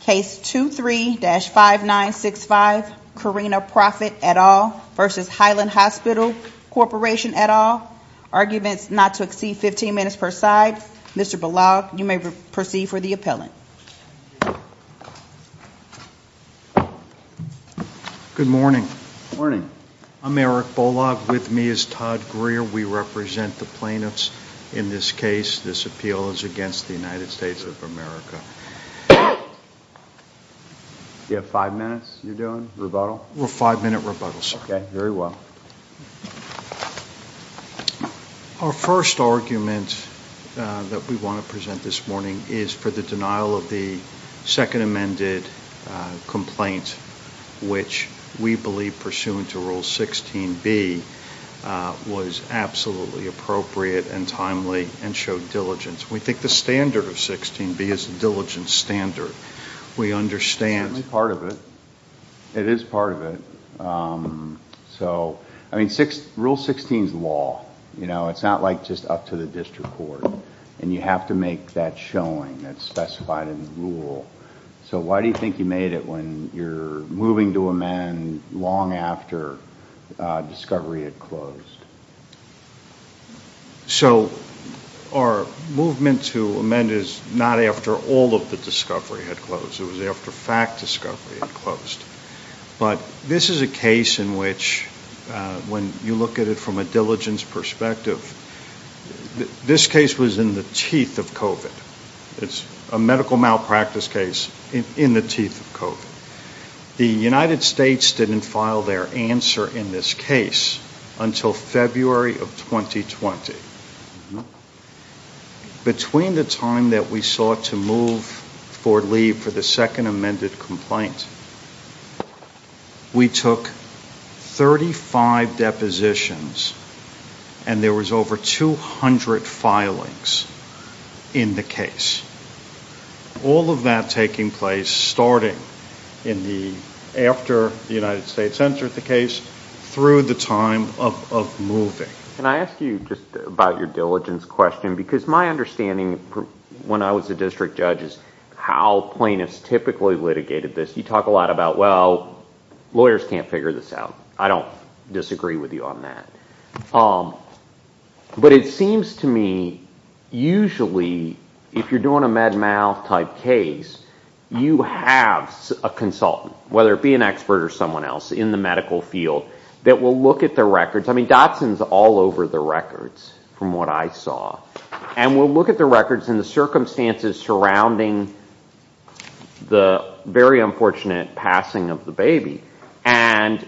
Case 23-5965 Correnia Profitt et al. v. Highlands Hospital Corporation et al. Arguments not to exceed 15 minutes per side. Mr. Bolag, you may proceed for the appellant. Good morning. Morning. I'm Eric Bolag. With me is Todd Greer. We represent the plaintiffs in this case. This appeal is against the United States of America. You have five minutes you're doing, rebuttal? A five-minute rebuttal, sir. Okay, very well. Our first argument that we want to present this morning is for the denial of the second amended complaint, which we believe pursuant to Rule 16b was absolutely appropriate and timely and showed diligence. We think the standard of 16b is a we understand. It's part of it. It is part of it. So, I mean, Rule 16 is law. You know, it's not like just up to the district court and you have to make that showing that's specified in the rule. So why do you think you made it when you're moving to amend long after discovery had closed? So, our movement to amend is not after all of the discovery had closed. It was after fact discovery had closed. But this is a case in which when you look at it from a diligence perspective, this case was in the teeth of COVID. It's a medical malpractice case in the COVID. The United States didn't file their answer in this case until February of 2020. Between the time that we sought to move for leave for the second amended complaint, we took 35 depositions and there was over 200 filings in the case. All of that taking place starting in the after the United States entered the case through the time of moving. Can I ask you just about your diligence question? Because my understanding when I was a district judge is how plaintiffs typically litigated this. You talk a lot about, well, lawyers can't figure this out. I don't disagree with you on that. But it seems to me usually if you're doing a med mal type case, you have a consultant, whether it be an expert or someone else in the medical field that will look at the records. I mean, Dotson's all over the records from what I saw and will look at the records and the circumstances surrounding the very unfortunate passing of the baby and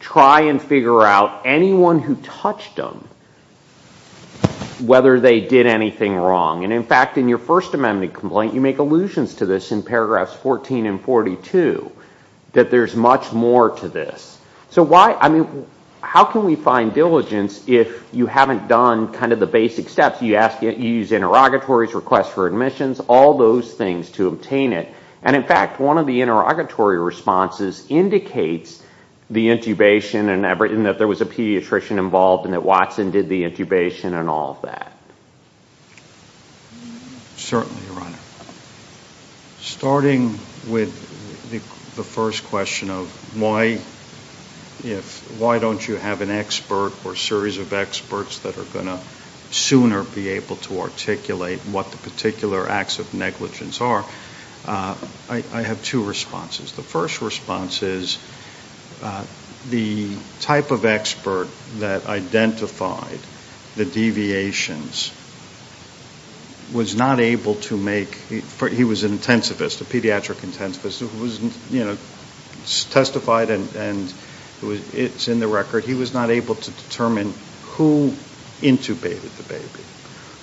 try and figure out anyone who touched them whether they did anything wrong. In fact, in your first amendment complaint, you make allusions to this in paragraphs 14 and 42 that there's much more to this. How can we find diligence if you haven't done the basic steps? You use interrogatories, requests for admissions, all those things to obtain it. In fact, one of the interrogatory responses indicates the intubation and that there was a pediatrician involved and that Watson did the intubation and all that. Certainly, Your Honor. Starting with the first question of why don't you have an expert or series of experts that are going to sooner be able to articulate what the particular acts of negligence are, I have two responses. The first response is the type of expert that identified the deviations was not able to make, he was an intensivist, a pediatric intensivist, who was, you know, testified and it's in the record. He was not able to determine who intubated the baby,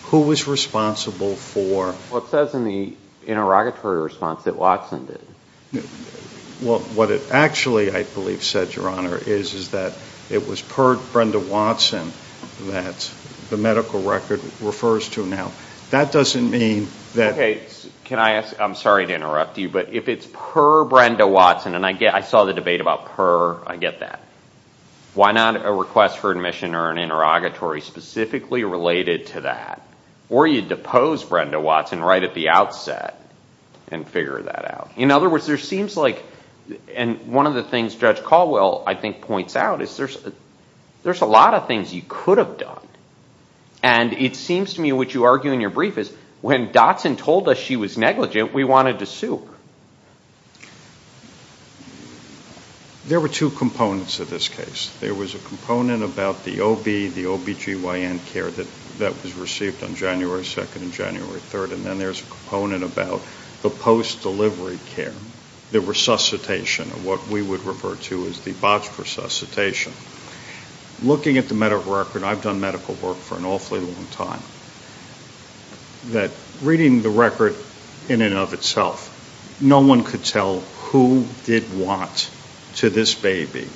who was responsible for... Well, it says in the interrogatory response that Watson did. What it actually, I believe, said, Your Honor, is that it was per Brenda Watson that the medical record refers to now. That doesn't mean that... Okay. Can I ask, I'm sorry to interrupt you, but if it's per Brenda Watson, and I saw the debate about per, I get that. Why not a request for admission or an interrogatory specifically related to that? Or you depose Brenda Watson right at the outset and figure that out? In other words, there seems like... And one of the things Judge Caldwell, I think, points out is there's a lot of things you could have done. And it seems to me what you argue in your brief is when Dotson told us she was negligent, we wanted to sue her. There were two components of this case. There was a component about the OB, the OBGYN care that was received on January 2nd and January 3rd. And then there's a component about the post-delivery care, the resuscitation, what we would refer to as the botched resuscitation. Looking at the medical record, I've done medical work for an awfully long time, that reading the record in and of itself, no one could tell who did what to this baby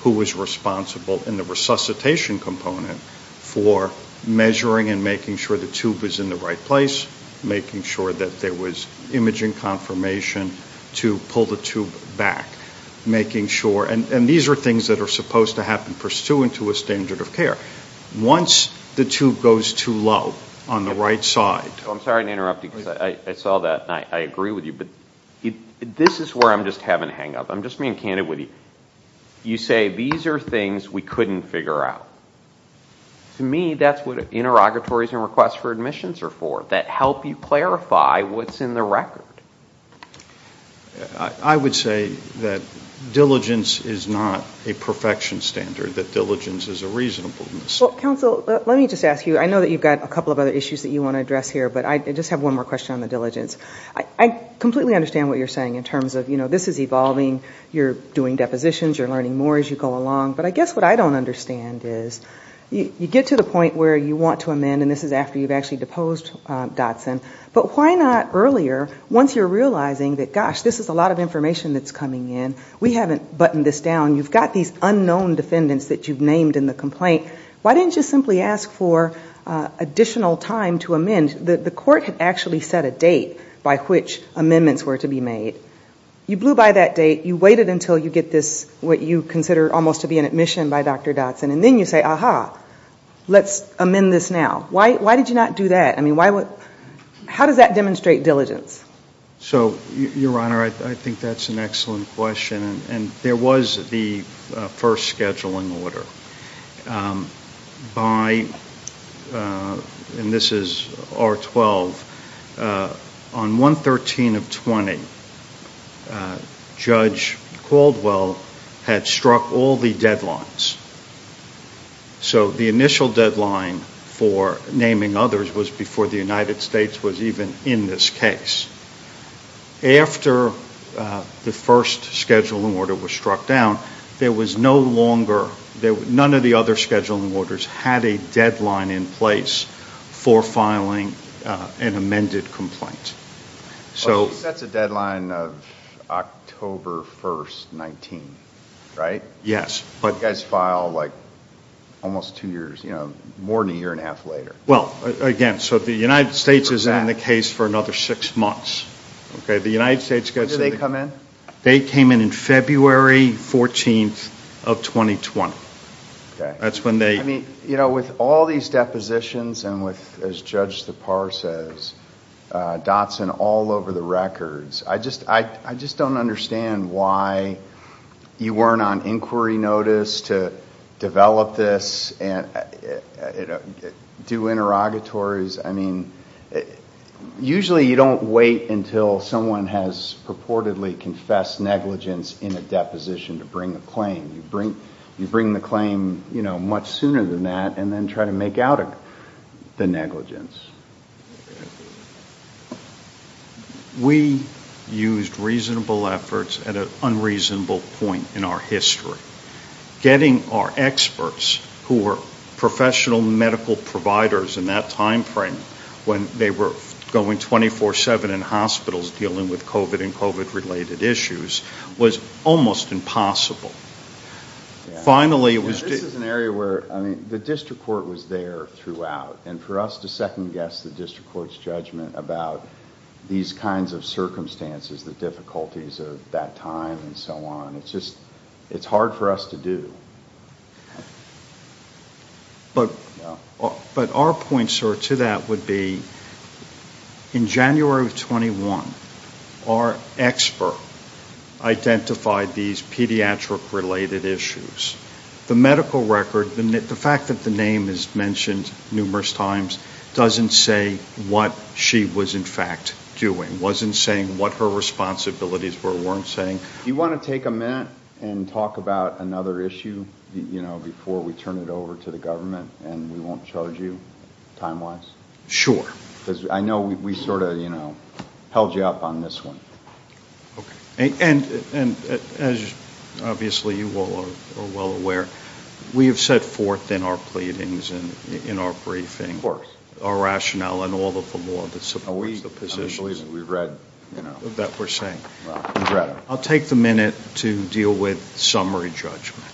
who was responsible in the resuscitation component for measuring and making sure the tube is in the right place, making sure that there was imaging confirmation to pull the tube back, making sure... And these are things that are supposed to happen pursuant to a standard of care. Once the tube goes too low on the right side... Dr. Eric Green I'm sorry to interrupt you. I saw that. I agree with you. But this is where I'm just having a hang up. I'm just being candid with you. You say, these are things we couldn't figure out. To me, that's what interrogatories and requests for admissions are for, that help you clarify what's in the record. Dr. John Aucott I would say that diligence is not a perfection standard, that diligence is a reasonableness. Dr. Teri Manolio Well, counsel, let me just ask you, I know that you've got a couple of other issues that you want to address here, but I just have one more question on the diligence. I completely understand what you're saying in terms of this evolving, you're doing depositions, you're learning more as you go along. But I guess what I don't understand is, you get to the point where you want to amend, and this is after you've actually deposed Dotson, but why not earlier, once you're realizing that, gosh, this is a lot of information that's coming in, we haven't buttoned this down, you've got these unknown defendants that you've named in the complaint, why didn't you simply ask for additional time to amend? The court had actually set a date by which amendments were to be made. You blew by that date, you waited until you get this, what you consider almost to be an admission by Dr. Dotson, and then you say, aha, let's amend this now. Why did you not do that? I mean, how does that demonstrate diligence? Justice Breyer So, Your Honor, I think that's an excellent question, and there was the first scheduling order. By, and this is R-12, on 1-13-20, Judge Caldwell had struck all the deadlines. So the initial deadline for naming others was before the United States was even in this case. After the first scheduling order was struck down, there was no longer, none of the other scheduling orders had a deadline in place for filing an amended complaint. Justice Breyer So that's a deadline of October 1, 19, right? Yes. But you guys file, like, almost two years, you know, more than a year and a half later. Well, again, so the United States is in the case for another six months. Okay, the United States gets When do they come in? Justice Breyer They came in February 14 of 2020. That's when they I mean, you know, with all these depositions and with, as Judge Tappar says, Dotson all over the records, I just don't understand why you weren't on inquiry notice to develop this and do interrogatories. I mean, usually you don't wait until someone has purportedly confessed negligence in a deposition to bring a claim. You bring the claim, you know, much sooner than that and then try to make out the negligence. We used reasonable efforts at an unreasonable point in our history. Getting our experts, who were professional medical providers in that time frame, when they were going 24-7 in hospitals dealing with COVID and COVID-related issues, was almost impossible. Finally, it was This is an area where, I mean, the district court was there throughout, and for us to second guess the district court's judgment about these kinds of circumstances, the difficulties of that time and so on, it's just, it's hard for us to do. But our point, sir, to that would be, in January of 21, our expert identified these pediatric related issues. The medical record, the fact that the name is mentioned numerous times, doesn't say what she was in fact doing, wasn't saying what her responsibilities were, weren't saying. Do you want to take a minute and talk about another issue before we turn it over to the government and we won't charge you time-wise? Sure. Because I know we sort of, you know, held you up on this one. Okay. And as obviously you all are well aware, we have set forth in our pleadings and in our briefing, our rationale and all of the law that supports the positions that we're saying. I'll take the minute to deal with summary judgment.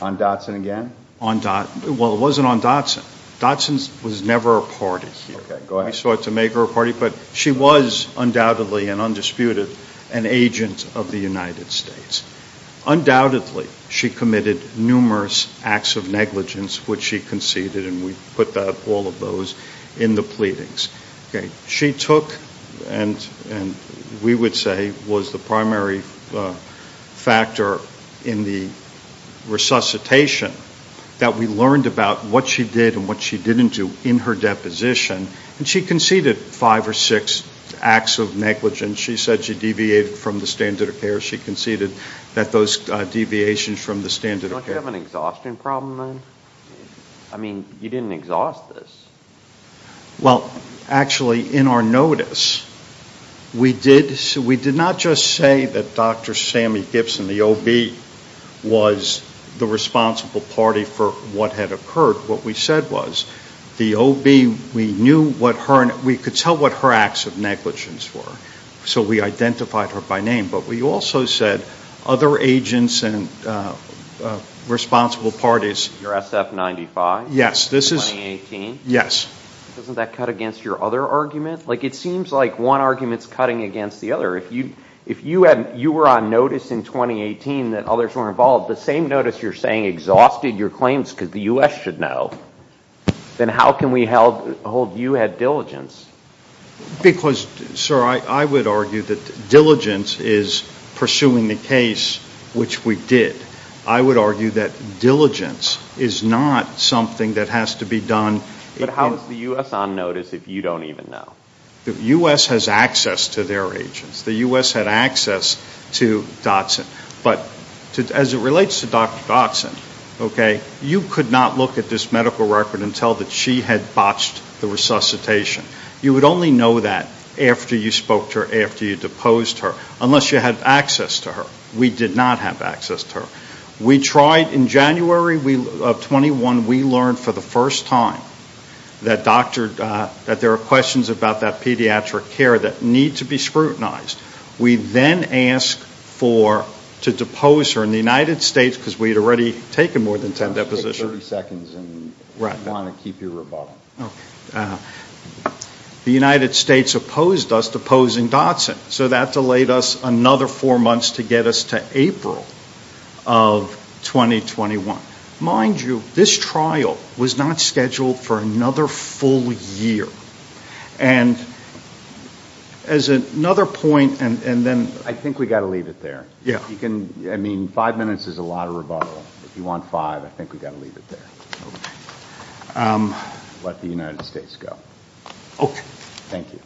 On Dotson again? Well, it wasn't on Dotson. Dotson was never a party here. Okay, go ahead. We sought to make her a party, but she was undoubtedly and undisputed an agent of the United States. Undoubtedly, she committed numerous acts of negligence, which she conceded, and we put all of those in the pleadings. Okay. She took and we would say was the primary factor in the resuscitation that we learned about what she did and what she didn't do in her deposition. And she conceded five or six acts of negligence. She said she deviated from the standard of care. She conceded that those deviations from the standard of care. Don't you have an exhaustion problem then? I mean, you didn't exhaust this. Well, actually, in our notice, we did not just say that Dr. Sammy Gibson, the OB, was the responsible party for what had occurred. What we said was the OB, we knew what her... We could tell what her acts of negligence were, so we identified her by name. But we also said other agents and responsible parties... Your SF-95? Yes, this is... Yes. Doesn't that cut against your other argument? Like it seems like one argument's cutting against the other. If you were on notice in 2018 that others were involved, the same notice you're saying exhausted your claims because the U.S. should know, then how can we hold you at diligence? Because, sir, I would argue that diligence is pursuing the case, which we did. I would argue that diligence is not something that has to be done... But how is the U.S. on notice if you don't even know? The U.S. has access to their agents. The U.S. had access to Dotson. But as it relates to Dr. Dotson, okay, you could not look at this medical record and tell that she had botched the resuscitation. You would only know that after you spoke to her, after you deposed her, unless you had access to her. We did not have access to her. We tried in January of 21, we learned for the first time that there are questions about that pediatric care that need to be scrutinized. We then asked to depose her in the United States because we had already taken more than 10 depositions. Take 30 seconds and want to keep your rebuttal. Okay. The United States opposed us deposing Dotson. So that delayed us another four months to get us to April of 2021. Mind you, this trial was not scheduled for another full year. And as another point, and then... I think we got to leave it there. Yeah. You can, I mean, five minutes is a lot of rebuttal. If you want five, I think we got to leave it there. Let the United States go. Okay. Thank you.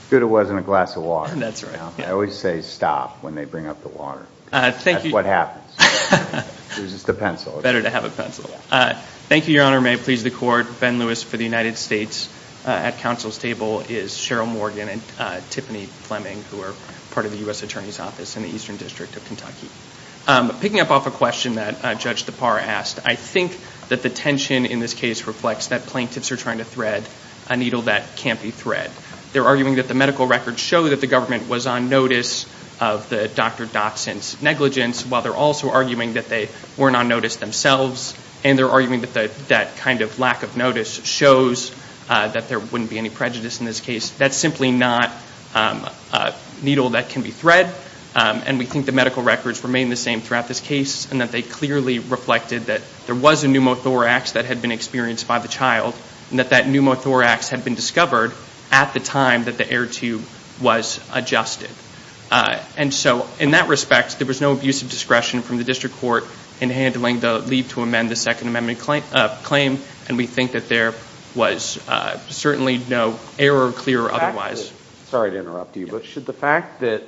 It's good it wasn't a glass of water. That's right. I always say stop when they bring up the water. Thank you. That's what happens. It was just a pencil. Better to have a pencil. Thank you, Your Honor. May it please the court, Ben Lewis for the United States. At counsel's table is Cheryl Morgan and Tiffany Fleming, who are part of the U.S. Attorney's Office in the Eastern District of Kentucky. Picking up off a question that Judge Depar asked, I think that the tension in this case reflects that plaintiffs are trying to thread a needle that can't be thread. They're arguing that the medical records show that the government was on notice of the Dr. Dotson's negligence, while they're also arguing that they weren't on notice themselves. And they're arguing that that kind of lack of notice shows that there wouldn't be any prejudice in this case. That's simply not a needle that can be thread. And we think the medical records remain the same throughout this case, and that they clearly reflected that there was a pneumothorax that had been experienced by the child, and that that pneumothorax had been discovered at the time that the air tube was adjusted. And so in that respect, there was no abuse of discretion from the district court in handling the leave to amend the Second Amendment claim. And we think that there was certainly no error, clear or otherwise. Sorry to interrupt you, but should the fact that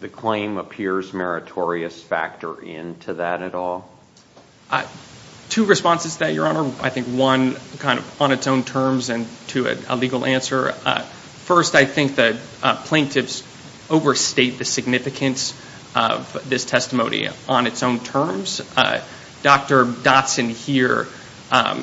the claim appears meritorious factor into that at all? Two responses to that, Your Honor. I think one, kind of on its own terms, and two, a legal answer. First, I think that plaintiffs overstate the significance of this testimony on its own terms. Dr. Dotson here,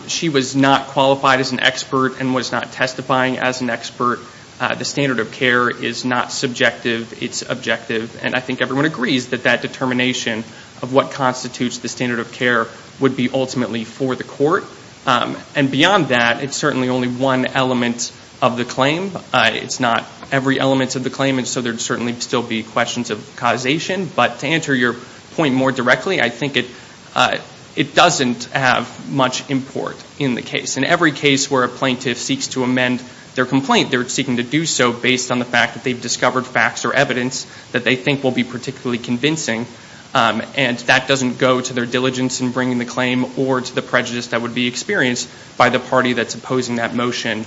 she was not qualified as an expert and was not testifying as an expert. The standard of care is not subjective, it's objective. And I think everyone agrees that that determination of what constitutes the standard of care would be ultimately for the court. And beyond that, it's certainly only one element of the claim. It's not every element of the claim, and so there'd certainly still be questions of causation. But to answer your point more directly, I think it doesn't have much import in the case. In every case where a plaintiff seeks to amend their complaint, they're seeking to do so based on the fact that they've discovered facts or evidence that they think will be particularly convincing, and that doesn't go to their diligence in bringing the claim or to the prejudice that would be experienced by the party that's opposing that motion.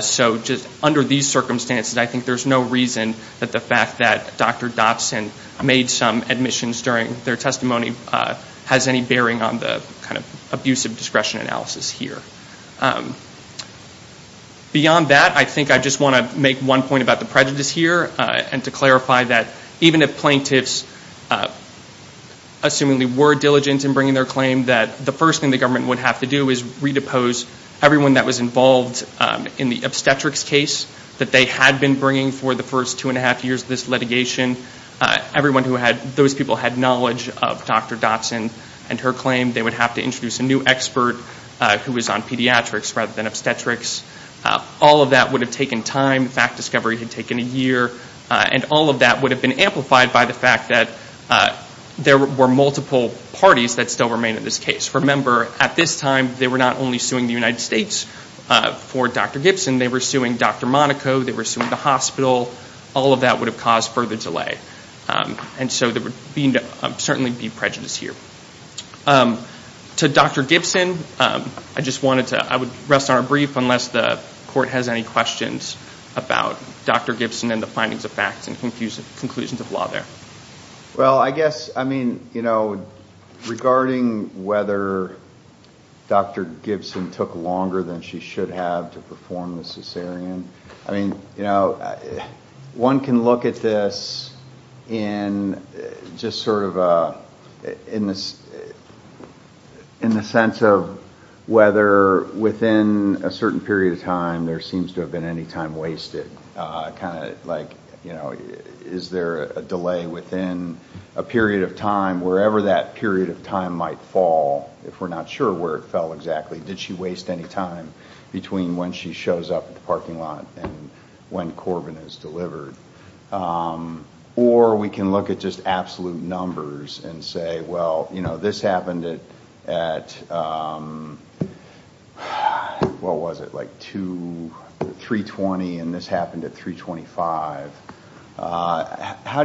So just under these circumstances, I think there's no reason that the fact that Dr. Dotson made some admissions during their testimony has any bearing on the kind of abusive discretion analysis here. Beyond that, I think I just want to make one point about the prejudice here and to clarify that even if plaintiffs, assuming they were diligent in bringing their claim, that the first thing the government would have to do is redepose everyone that was involved in the obstetrics case that they had been bringing for the first two and a half years of this everyone who had those people had knowledge of Dr. Dotson and her claim. They would have to introduce a new expert who was on pediatrics rather than obstetrics. All of that would have taken time. Fact discovery had taken a year, and all of that would have been amplified by the fact that there were multiple parties that still remain in this case. Remember, at this time, they were not only suing the United States for Dr. Gibson, they were suing Dr. Monaco, they were suing the hospital. All of that would have caused further delay. So there would certainly be prejudice here. To Dr. Gibson, I would rest on a brief unless the court has any questions about Dr. Gibson and the findings of facts and conclusions of law there. Well, I guess regarding whether Dr. Gibson took longer than she should have to perform the cesarean, one can look at this in the sense of whether within a certain period of time there seems to have been any time wasted. Is there a delay within a period of time, wherever that period of time might fall, if we're not sure where it fell exactly? Did she waste any time between when she shows up at the parking lot and when Corbin is delivered? Or we can look at just absolute numbers and say, well, this happened at, what was it, like 3.20 and this happened at 3.25. How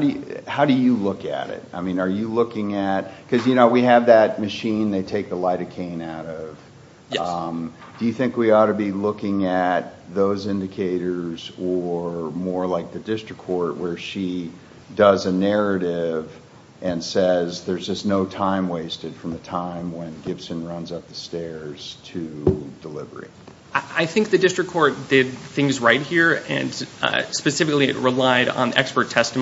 do you look at it? Are you looking at, because we have that machine they take the lidocaine out of. Do you think we ought to be looking at those indicators or more like the district court where she does a narrative and says there's just no time wasted from the time when Gibson runs up the stairs to delivery? I think the district court did things right here and specifically it relied on expert witnesses,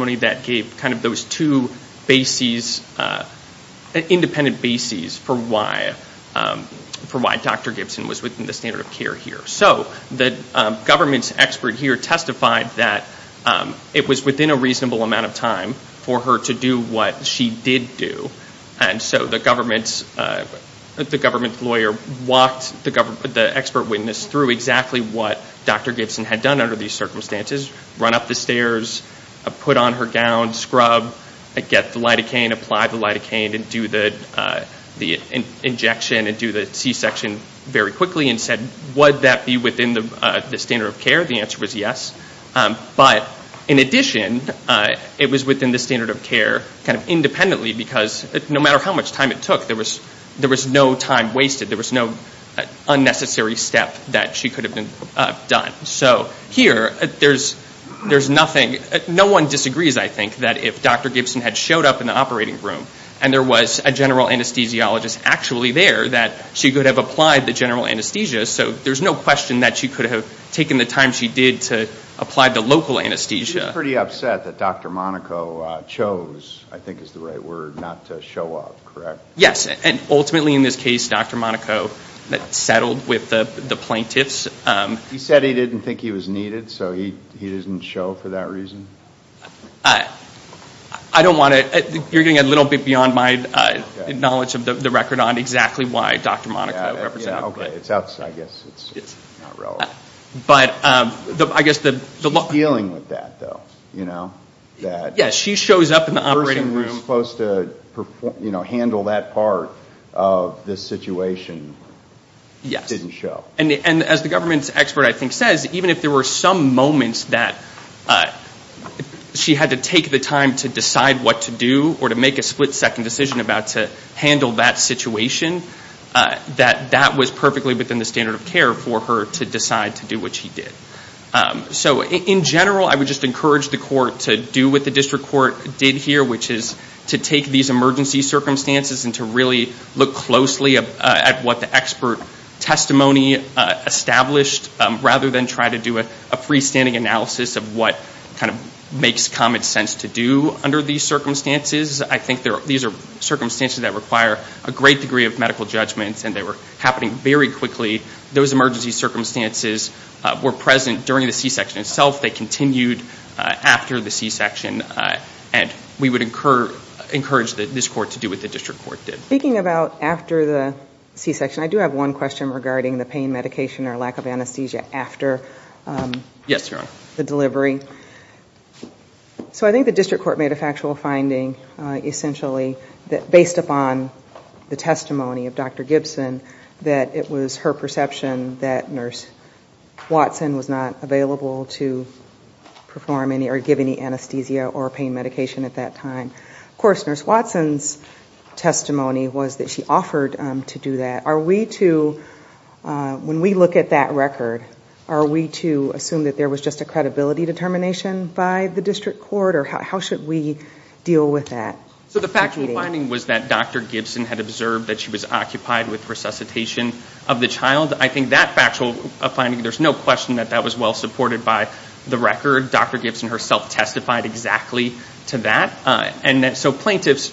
independent bases for why Dr. Gibson was within the standard of care here. So the government's expert here testified that it was within a reasonable amount of time for her to do what she did do and so the government lawyer walked the expert witness through exactly what Dr. Gibson had done under these circumstances, run up the stairs, put on her gown, scrub, get the lidocaine, apply the lidocaine and do the injection and do the C-section very quickly and said, would that be within the standard of care? The answer was yes. But in addition, it was within the standard of care kind of independently because no matter how much time it took, there was no time wasted. There was no unnecessary step that she could have done. So here, there's nothing, no one disagrees, I think, that if Dr. Gibson had showed up in the operating room and there was a general anesthesiologist actually there, that she could have applied the general anesthesia. So there's no question that she could have taken the time she did to apply the local anesthesia. She was pretty upset that Dr. Monaco chose, I think is the right word, not to show up, correct? Yes. And ultimately in this case, Dr. Monaco settled with the plaintiffs. He said he didn't think he was needed, so he didn't show for that reason? I don't want to, you're getting a little bit beyond my knowledge of the record on exactly why Dr. Monaco represented. Okay, I guess it's not relevant. But I guess the- She's dealing with that though, you know, that- Yes, she shows up in the operating room- The person who's supposed to, you know, handle that part of this situation didn't show. And as the government's expert I think says, even if there were some moments that she had to take the time to decide what to do or to make a split second decision about to handle that situation, that that was perfectly within the standard of care for her to decide to do what she did. So in general, I would just encourage the court to do what the district court did here, which is to take these emergency circumstances and to really look closely at what the expert testimony established rather than try to do a freestanding analysis of what kind of makes common sense to do under these circumstances. I think these are circumstances that require a great degree of medical judgments and they were happening very quickly. Those emergency circumstances were present during the C-section itself. They continued after the C-section. And we would encourage this court to do what the district court did. Speaking about after the C-section, I do have one question regarding the pain medication or lack of anesthesia after the delivery. So I think the district court made a factual finding essentially based upon the testimony of Dr. Gibson that it was her perception that Nurse Watson was not available to perform any or give any anesthesia or pain medication at that time. Of course, Nurse Watson's testimony was that she offered to do that. When we look at that record, are we to assume that there was just a credibility determination by the district court? Or how should we deal with that? So the factual finding was that Dr. Gibson had observed that she was occupied with resuscitation of the child. I think that factual finding, there's no question that that was well supported by the record. Dr. Gibson herself testified exactly to that. And so plaintiffs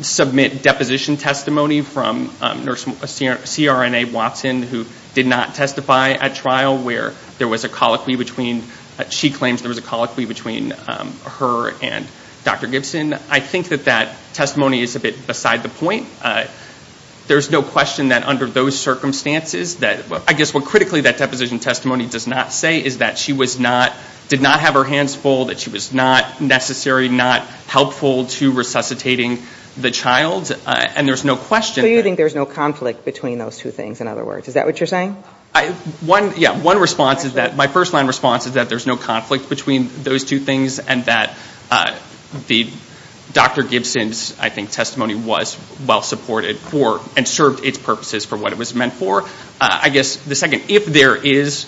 submit deposition testimony from Nurse CRNA Watson who did not testify at trial where there was a colloquy between, she claims there was a colloquy between her and Dr. Gibson. I think that that testimony is a bit beside the point. There's no question that under those circumstances, I guess what critically that deposition testimony does not say is that she was not, did not have her hands full, that she was not necessary, not helpful to resuscitating the child. And there's no question that- So you think there's no conflict between those two things, in other words. Is that what you're saying? One, yeah, one response is that, my first line response is that there's no conflict between those two things and that Dr. Gibson's, I think, testimony was well supported for and served its purposes for what it was meant for. I guess the second, if there is,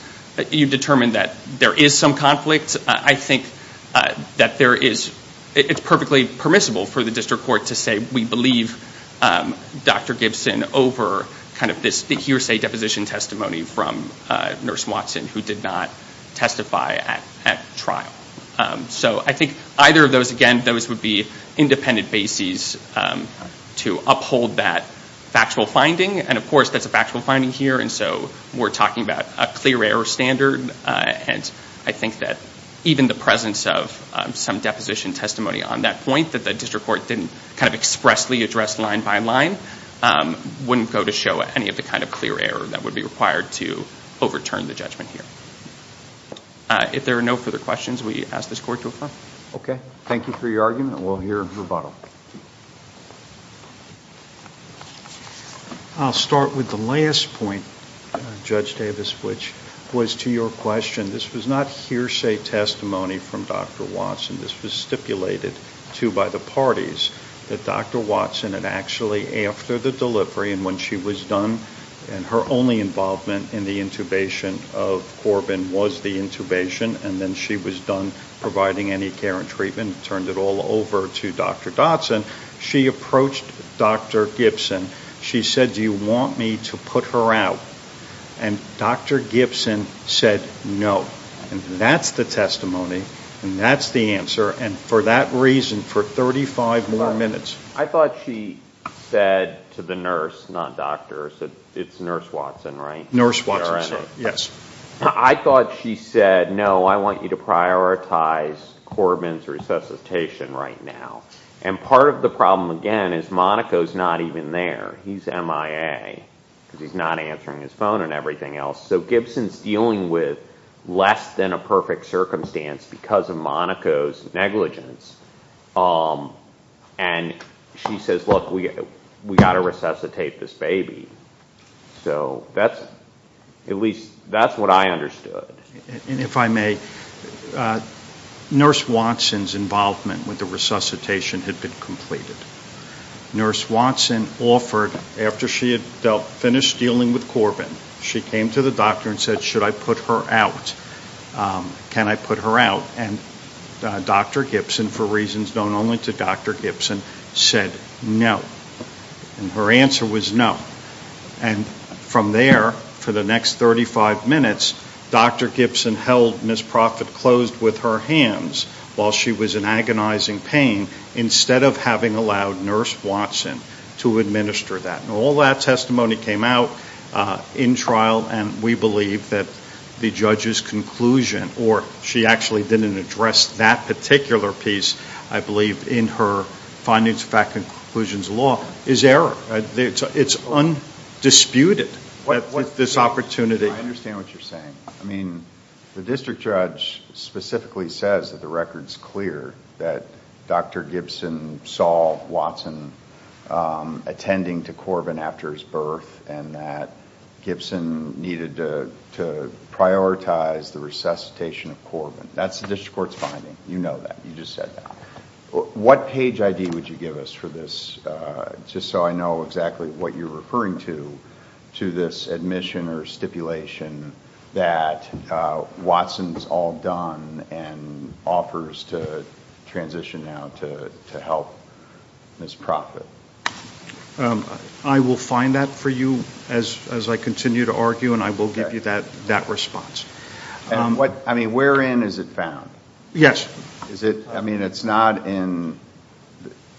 you determined that there is some conflict, I think that there is, it's perfectly permissible for the district court to say we believe Dr. Gibson over kind of this hearsay deposition testimony from Nurse Watson who did not testify at trial. So I think either of those, again, those would be independent bases to uphold that factual finding here and so we're talking about a clear error standard and I think that even the presence of some deposition testimony on that point that the district court didn't kind of expressly address line by line wouldn't go to show any of the kind of clear error that would be required to overturn the judgment here. If there are no further questions, we ask this court to adjourn. Okay, thank you for your argument. We'll hear rebuttal. I'll start with the last point, Judge Davis, which was to your question. This was not hearsay testimony from Dr. Watson. This was stipulated to by the parties that Dr. Watson had actually, after the delivery and when she was done and her only involvement in the intubation of Corbin was the intubation and then she was done providing any care and treatment, turned it all over to Dr. Dotson, she approached Dr. Gibson. She said, do you want me to put her out? And Dr. Gibson said no. And that's the testimony and that's the answer. And for that reason, for 35 more minutes. I thought she said to the nurse, not doctors, it's Nurse Watson, right? Nurse Watson, yes. I thought she said, no, I want you to prioritize Corbin's resuscitation right now. And part of the problem, again, is Monaco's not even there. He's MIA because he's not answering his phone and everything else. So Gibson's dealing with less than a perfect circumstance because of Monaco's negligence. And she says, look, we got to resuscitate this baby. So that's, at least that's what I understood. And if I may, Nurse Watson's involvement with the resuscitation had been completed. Nurse Watson offered, after she had finished dealing with Corbin, she came to the doctor and said, should I put her out? Can I put her out? And Dr. Gibson, for reasons known only to Dr. Gibson, said no. And her answer was no. And from there, for the next 35 minutes, Dr. Gibson held Ms. Proffitt closed with her hands while she was in agonizing pain, instead of having allowed Nurse Watson to administer that. And all that testimony came out in trial. And we believe that the judge's conclusion, or she actually didn't address that particular piece, I believe, in her findings, fact, conclusions law, is error. It's undisputed, this opportunity. I understand what you're saying. I mean, the district judge specifically says that the record's clear, that Dr. Gibson saw Watson attending to Corbin after his birth, and that Gibson needed to prioritize the resuscitation of Corbin. That's the district court's finding. You know that. You just said that. What page ID would you give us for this? Just so I know exactly what you're referring to, to this admission or stipulation that Watson's all done and offers to transition now to help Ms. Proffitt. I will find that for you as I continue to argue, and I will give you that response. I mean, where in is it found? Yes. I mean, it's not in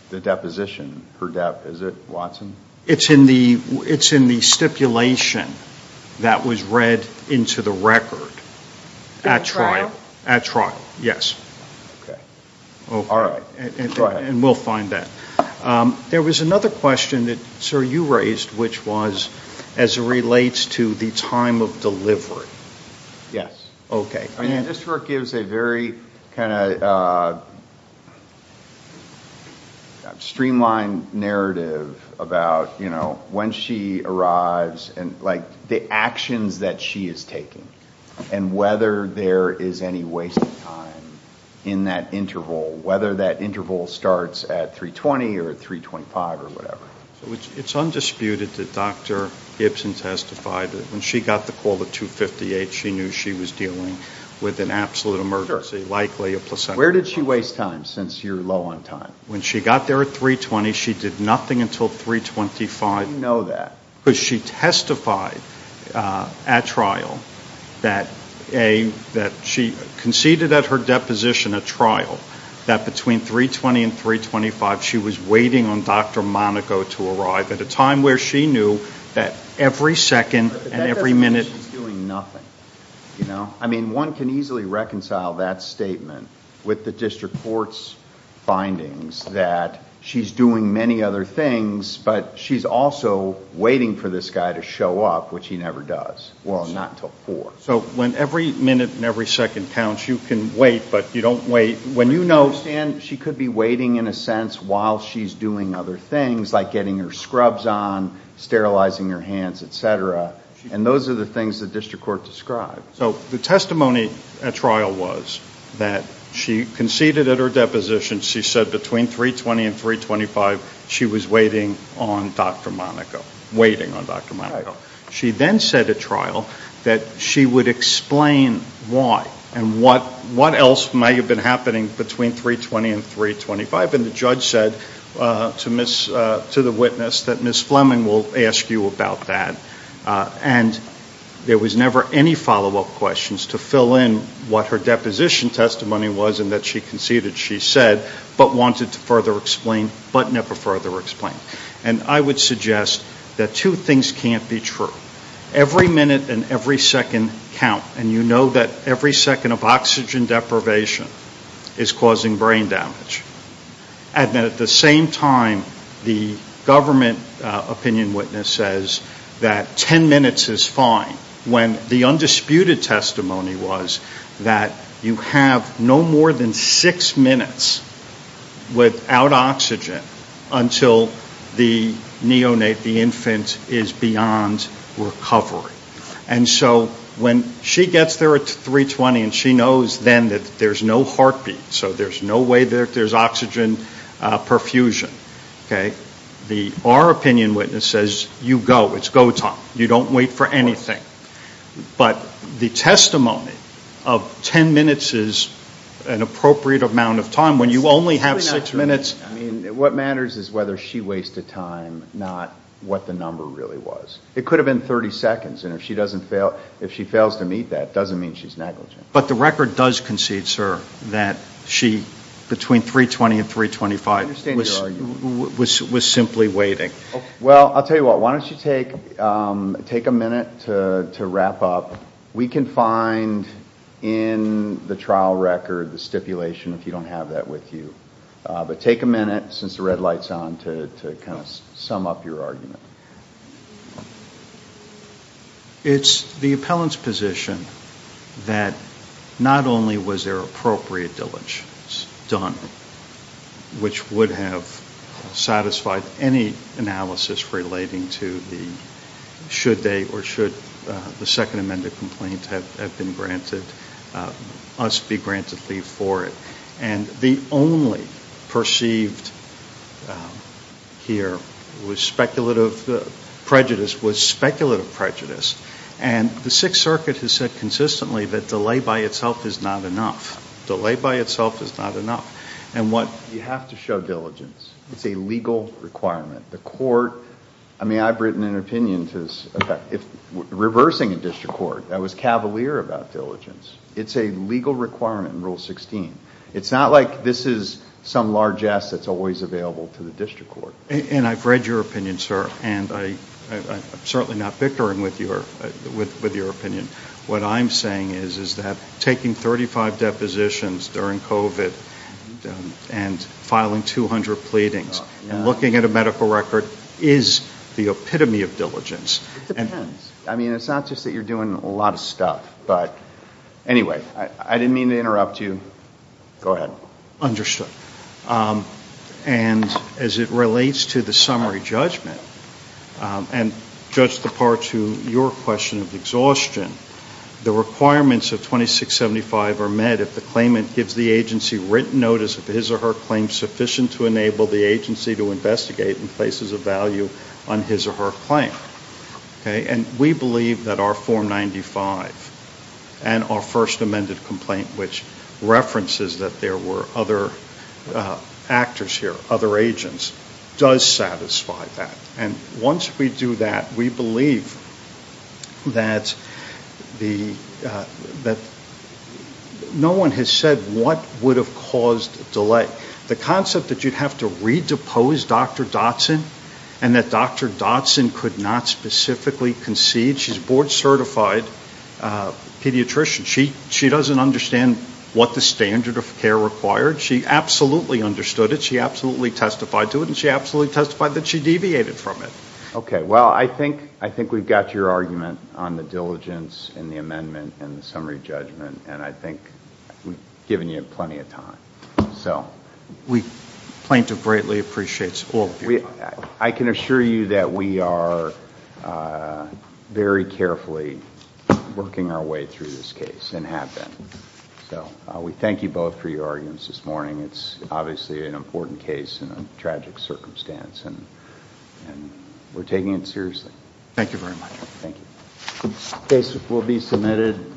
the deposition, her death. Is it Watson? It's in the stipulation that was read into the record at trial. All right, go ahead. And we'll find that. There was another question that, sir, you raised, which was as it relates to the time of delivery. Yes. Okay. This work gives a very kind of streamlined narrative about, you know, when she arrives and like the actions that she is taking and whether there is any wasted time in that interval, whether that interval starts at 3.20 or 3.25 or whatever. It's undisputed that Dr. Gibson testified that when she got the call at 2.58, she knew she was dealing with an absolute emergency, likely a placenta. Where did she waste time since you're low on time? When she got there at 3.20, she did nothing until 3.25. How do you know that? Because she testified at trial that she conceded at her deposition at trial that between 3.20 and 3.25, she was waiting on Dr. Monaco to arrive at a time where she knew that every second and every minute. She's doing nothing, you know. I mean, one can easily reconcile that statement with the district court's findings that she's doing many other things, but she's also waiting for this guy to show up, which he never does. Well, not until 4. So when every minute and every second counts, you can wait, but you don't wait. When you know, Stan, she could be waiting in a sense while she's doing other things like getting her scrubs on, sterilizing her hands, et cetera. And those are the things the district court described. So the testimony at trial was that she conceded at her deposition. She said between 3.20 and 3.25, she was waiting on Dr. Monaco, waiting on Dr. Monaco. She then said at trial that she would explain why and what else might have been happening between 3.20 and 3.25. And the judge said to the witness that Ms. Fleming will ask you about that. And there was never any follow-up questions to fill in what her deposition testimony was and that she conceded she said, but wanted to further explain, but never further explain. And I would suggest that two things can't be true. Every minute and every second count, and you know that every second of oxygen deprivation is causing brain damage. And at the same time, the government opinion witness says that 10 minutes is fine when the undisputed testimony was that you have no more than six minutes without oxygen until the neonate, the infant, is beyond recovery. And so when she gets there at 3.20 and she knows then that there's no heartbeat, so there's no way that there's oxygen perfusion, okay, the our opinion witness says you go, it's go time, you don't wait for anything. But the testimony of 10 minutes is an appropriate amount of time when you only have six minutes. I mean, what matters is whether she wasted time, not what the number really was. It could have been 30 seconds, and if she doesn't fail, if she fails to meet that, it doesn't mean she's negligent. But the record does concede, sir, that she, between 3.20 and 3.25, was simply waiting. Well, I'll tell you what, why don't you take a minute to wrap up. We can find in the trial record the stipulation if you don't have that with you. But take a minute, since the red light's on, to kind of sum up your argument. It's the appellant's position that not only was there appropriate diligence done, which would have satisfied any analysis relating to the should they or should the second amended complaint have been granted, must be granted leave for it. And the only perceived here was speculative prejudice was speculative prejudice. And the Sixth Circuit has said consistently that delay by itself is not enough. Delay by itself is not enough. And what you have to show diligence. It's a legal requirement. The court, I mean, I've written an opinion to this effect. If reversing a district court, that was cavalier about diligence. It's a legal requirement in Rule 16. It's not like this is some largess that's always available to the district court. And I've read your opinion, sir, and I'm certainly not bickering with your opinion. What I'm saying is that taking 35 depositions during COVID and filing 200 pleadings and looking at a medical record is the epitome of diligence. It depends. I mean, it's not just that you're doing a lot of stuff. But anyway, I didn't mean to interrupt you. Go ahead. And as it relates to the summary judgment and judge the part to your question of exhaustion, the requirements of 2675 are met if the claimant gives the agency written notice of his or her claim sufficient to enable the agency to investigate in places of value on his or her claim. And we believe that our form 95 and our first amended complaint, which references that there were other actors here, other agents, does satisfy that. And once we do that, we believe that no one has said what would have caused delay. The concept that you'd have to re-depose Dr. Dotson and that Dr. Dotson could not specifically concede, she's a board certified pediatrician. She doesn't understand what the standard of care required. She absolutely understood it. She absolutely testified to it. And she absolutely testified that she deviated from it. Okay. Well, I think we've got your argument on the diligence and the amendment and the summary judgment. And I think we've given you plenty of time. So. We plaintiff greatly appreciates all of your time. I can assure you that we are very carefully working our way through this case and have been. So we thank you both for your arguments this morning. It's obviously an important case in a tragic circumstance. And we're taking it seriously. Thank you very much. Thank you. The case will be submitted.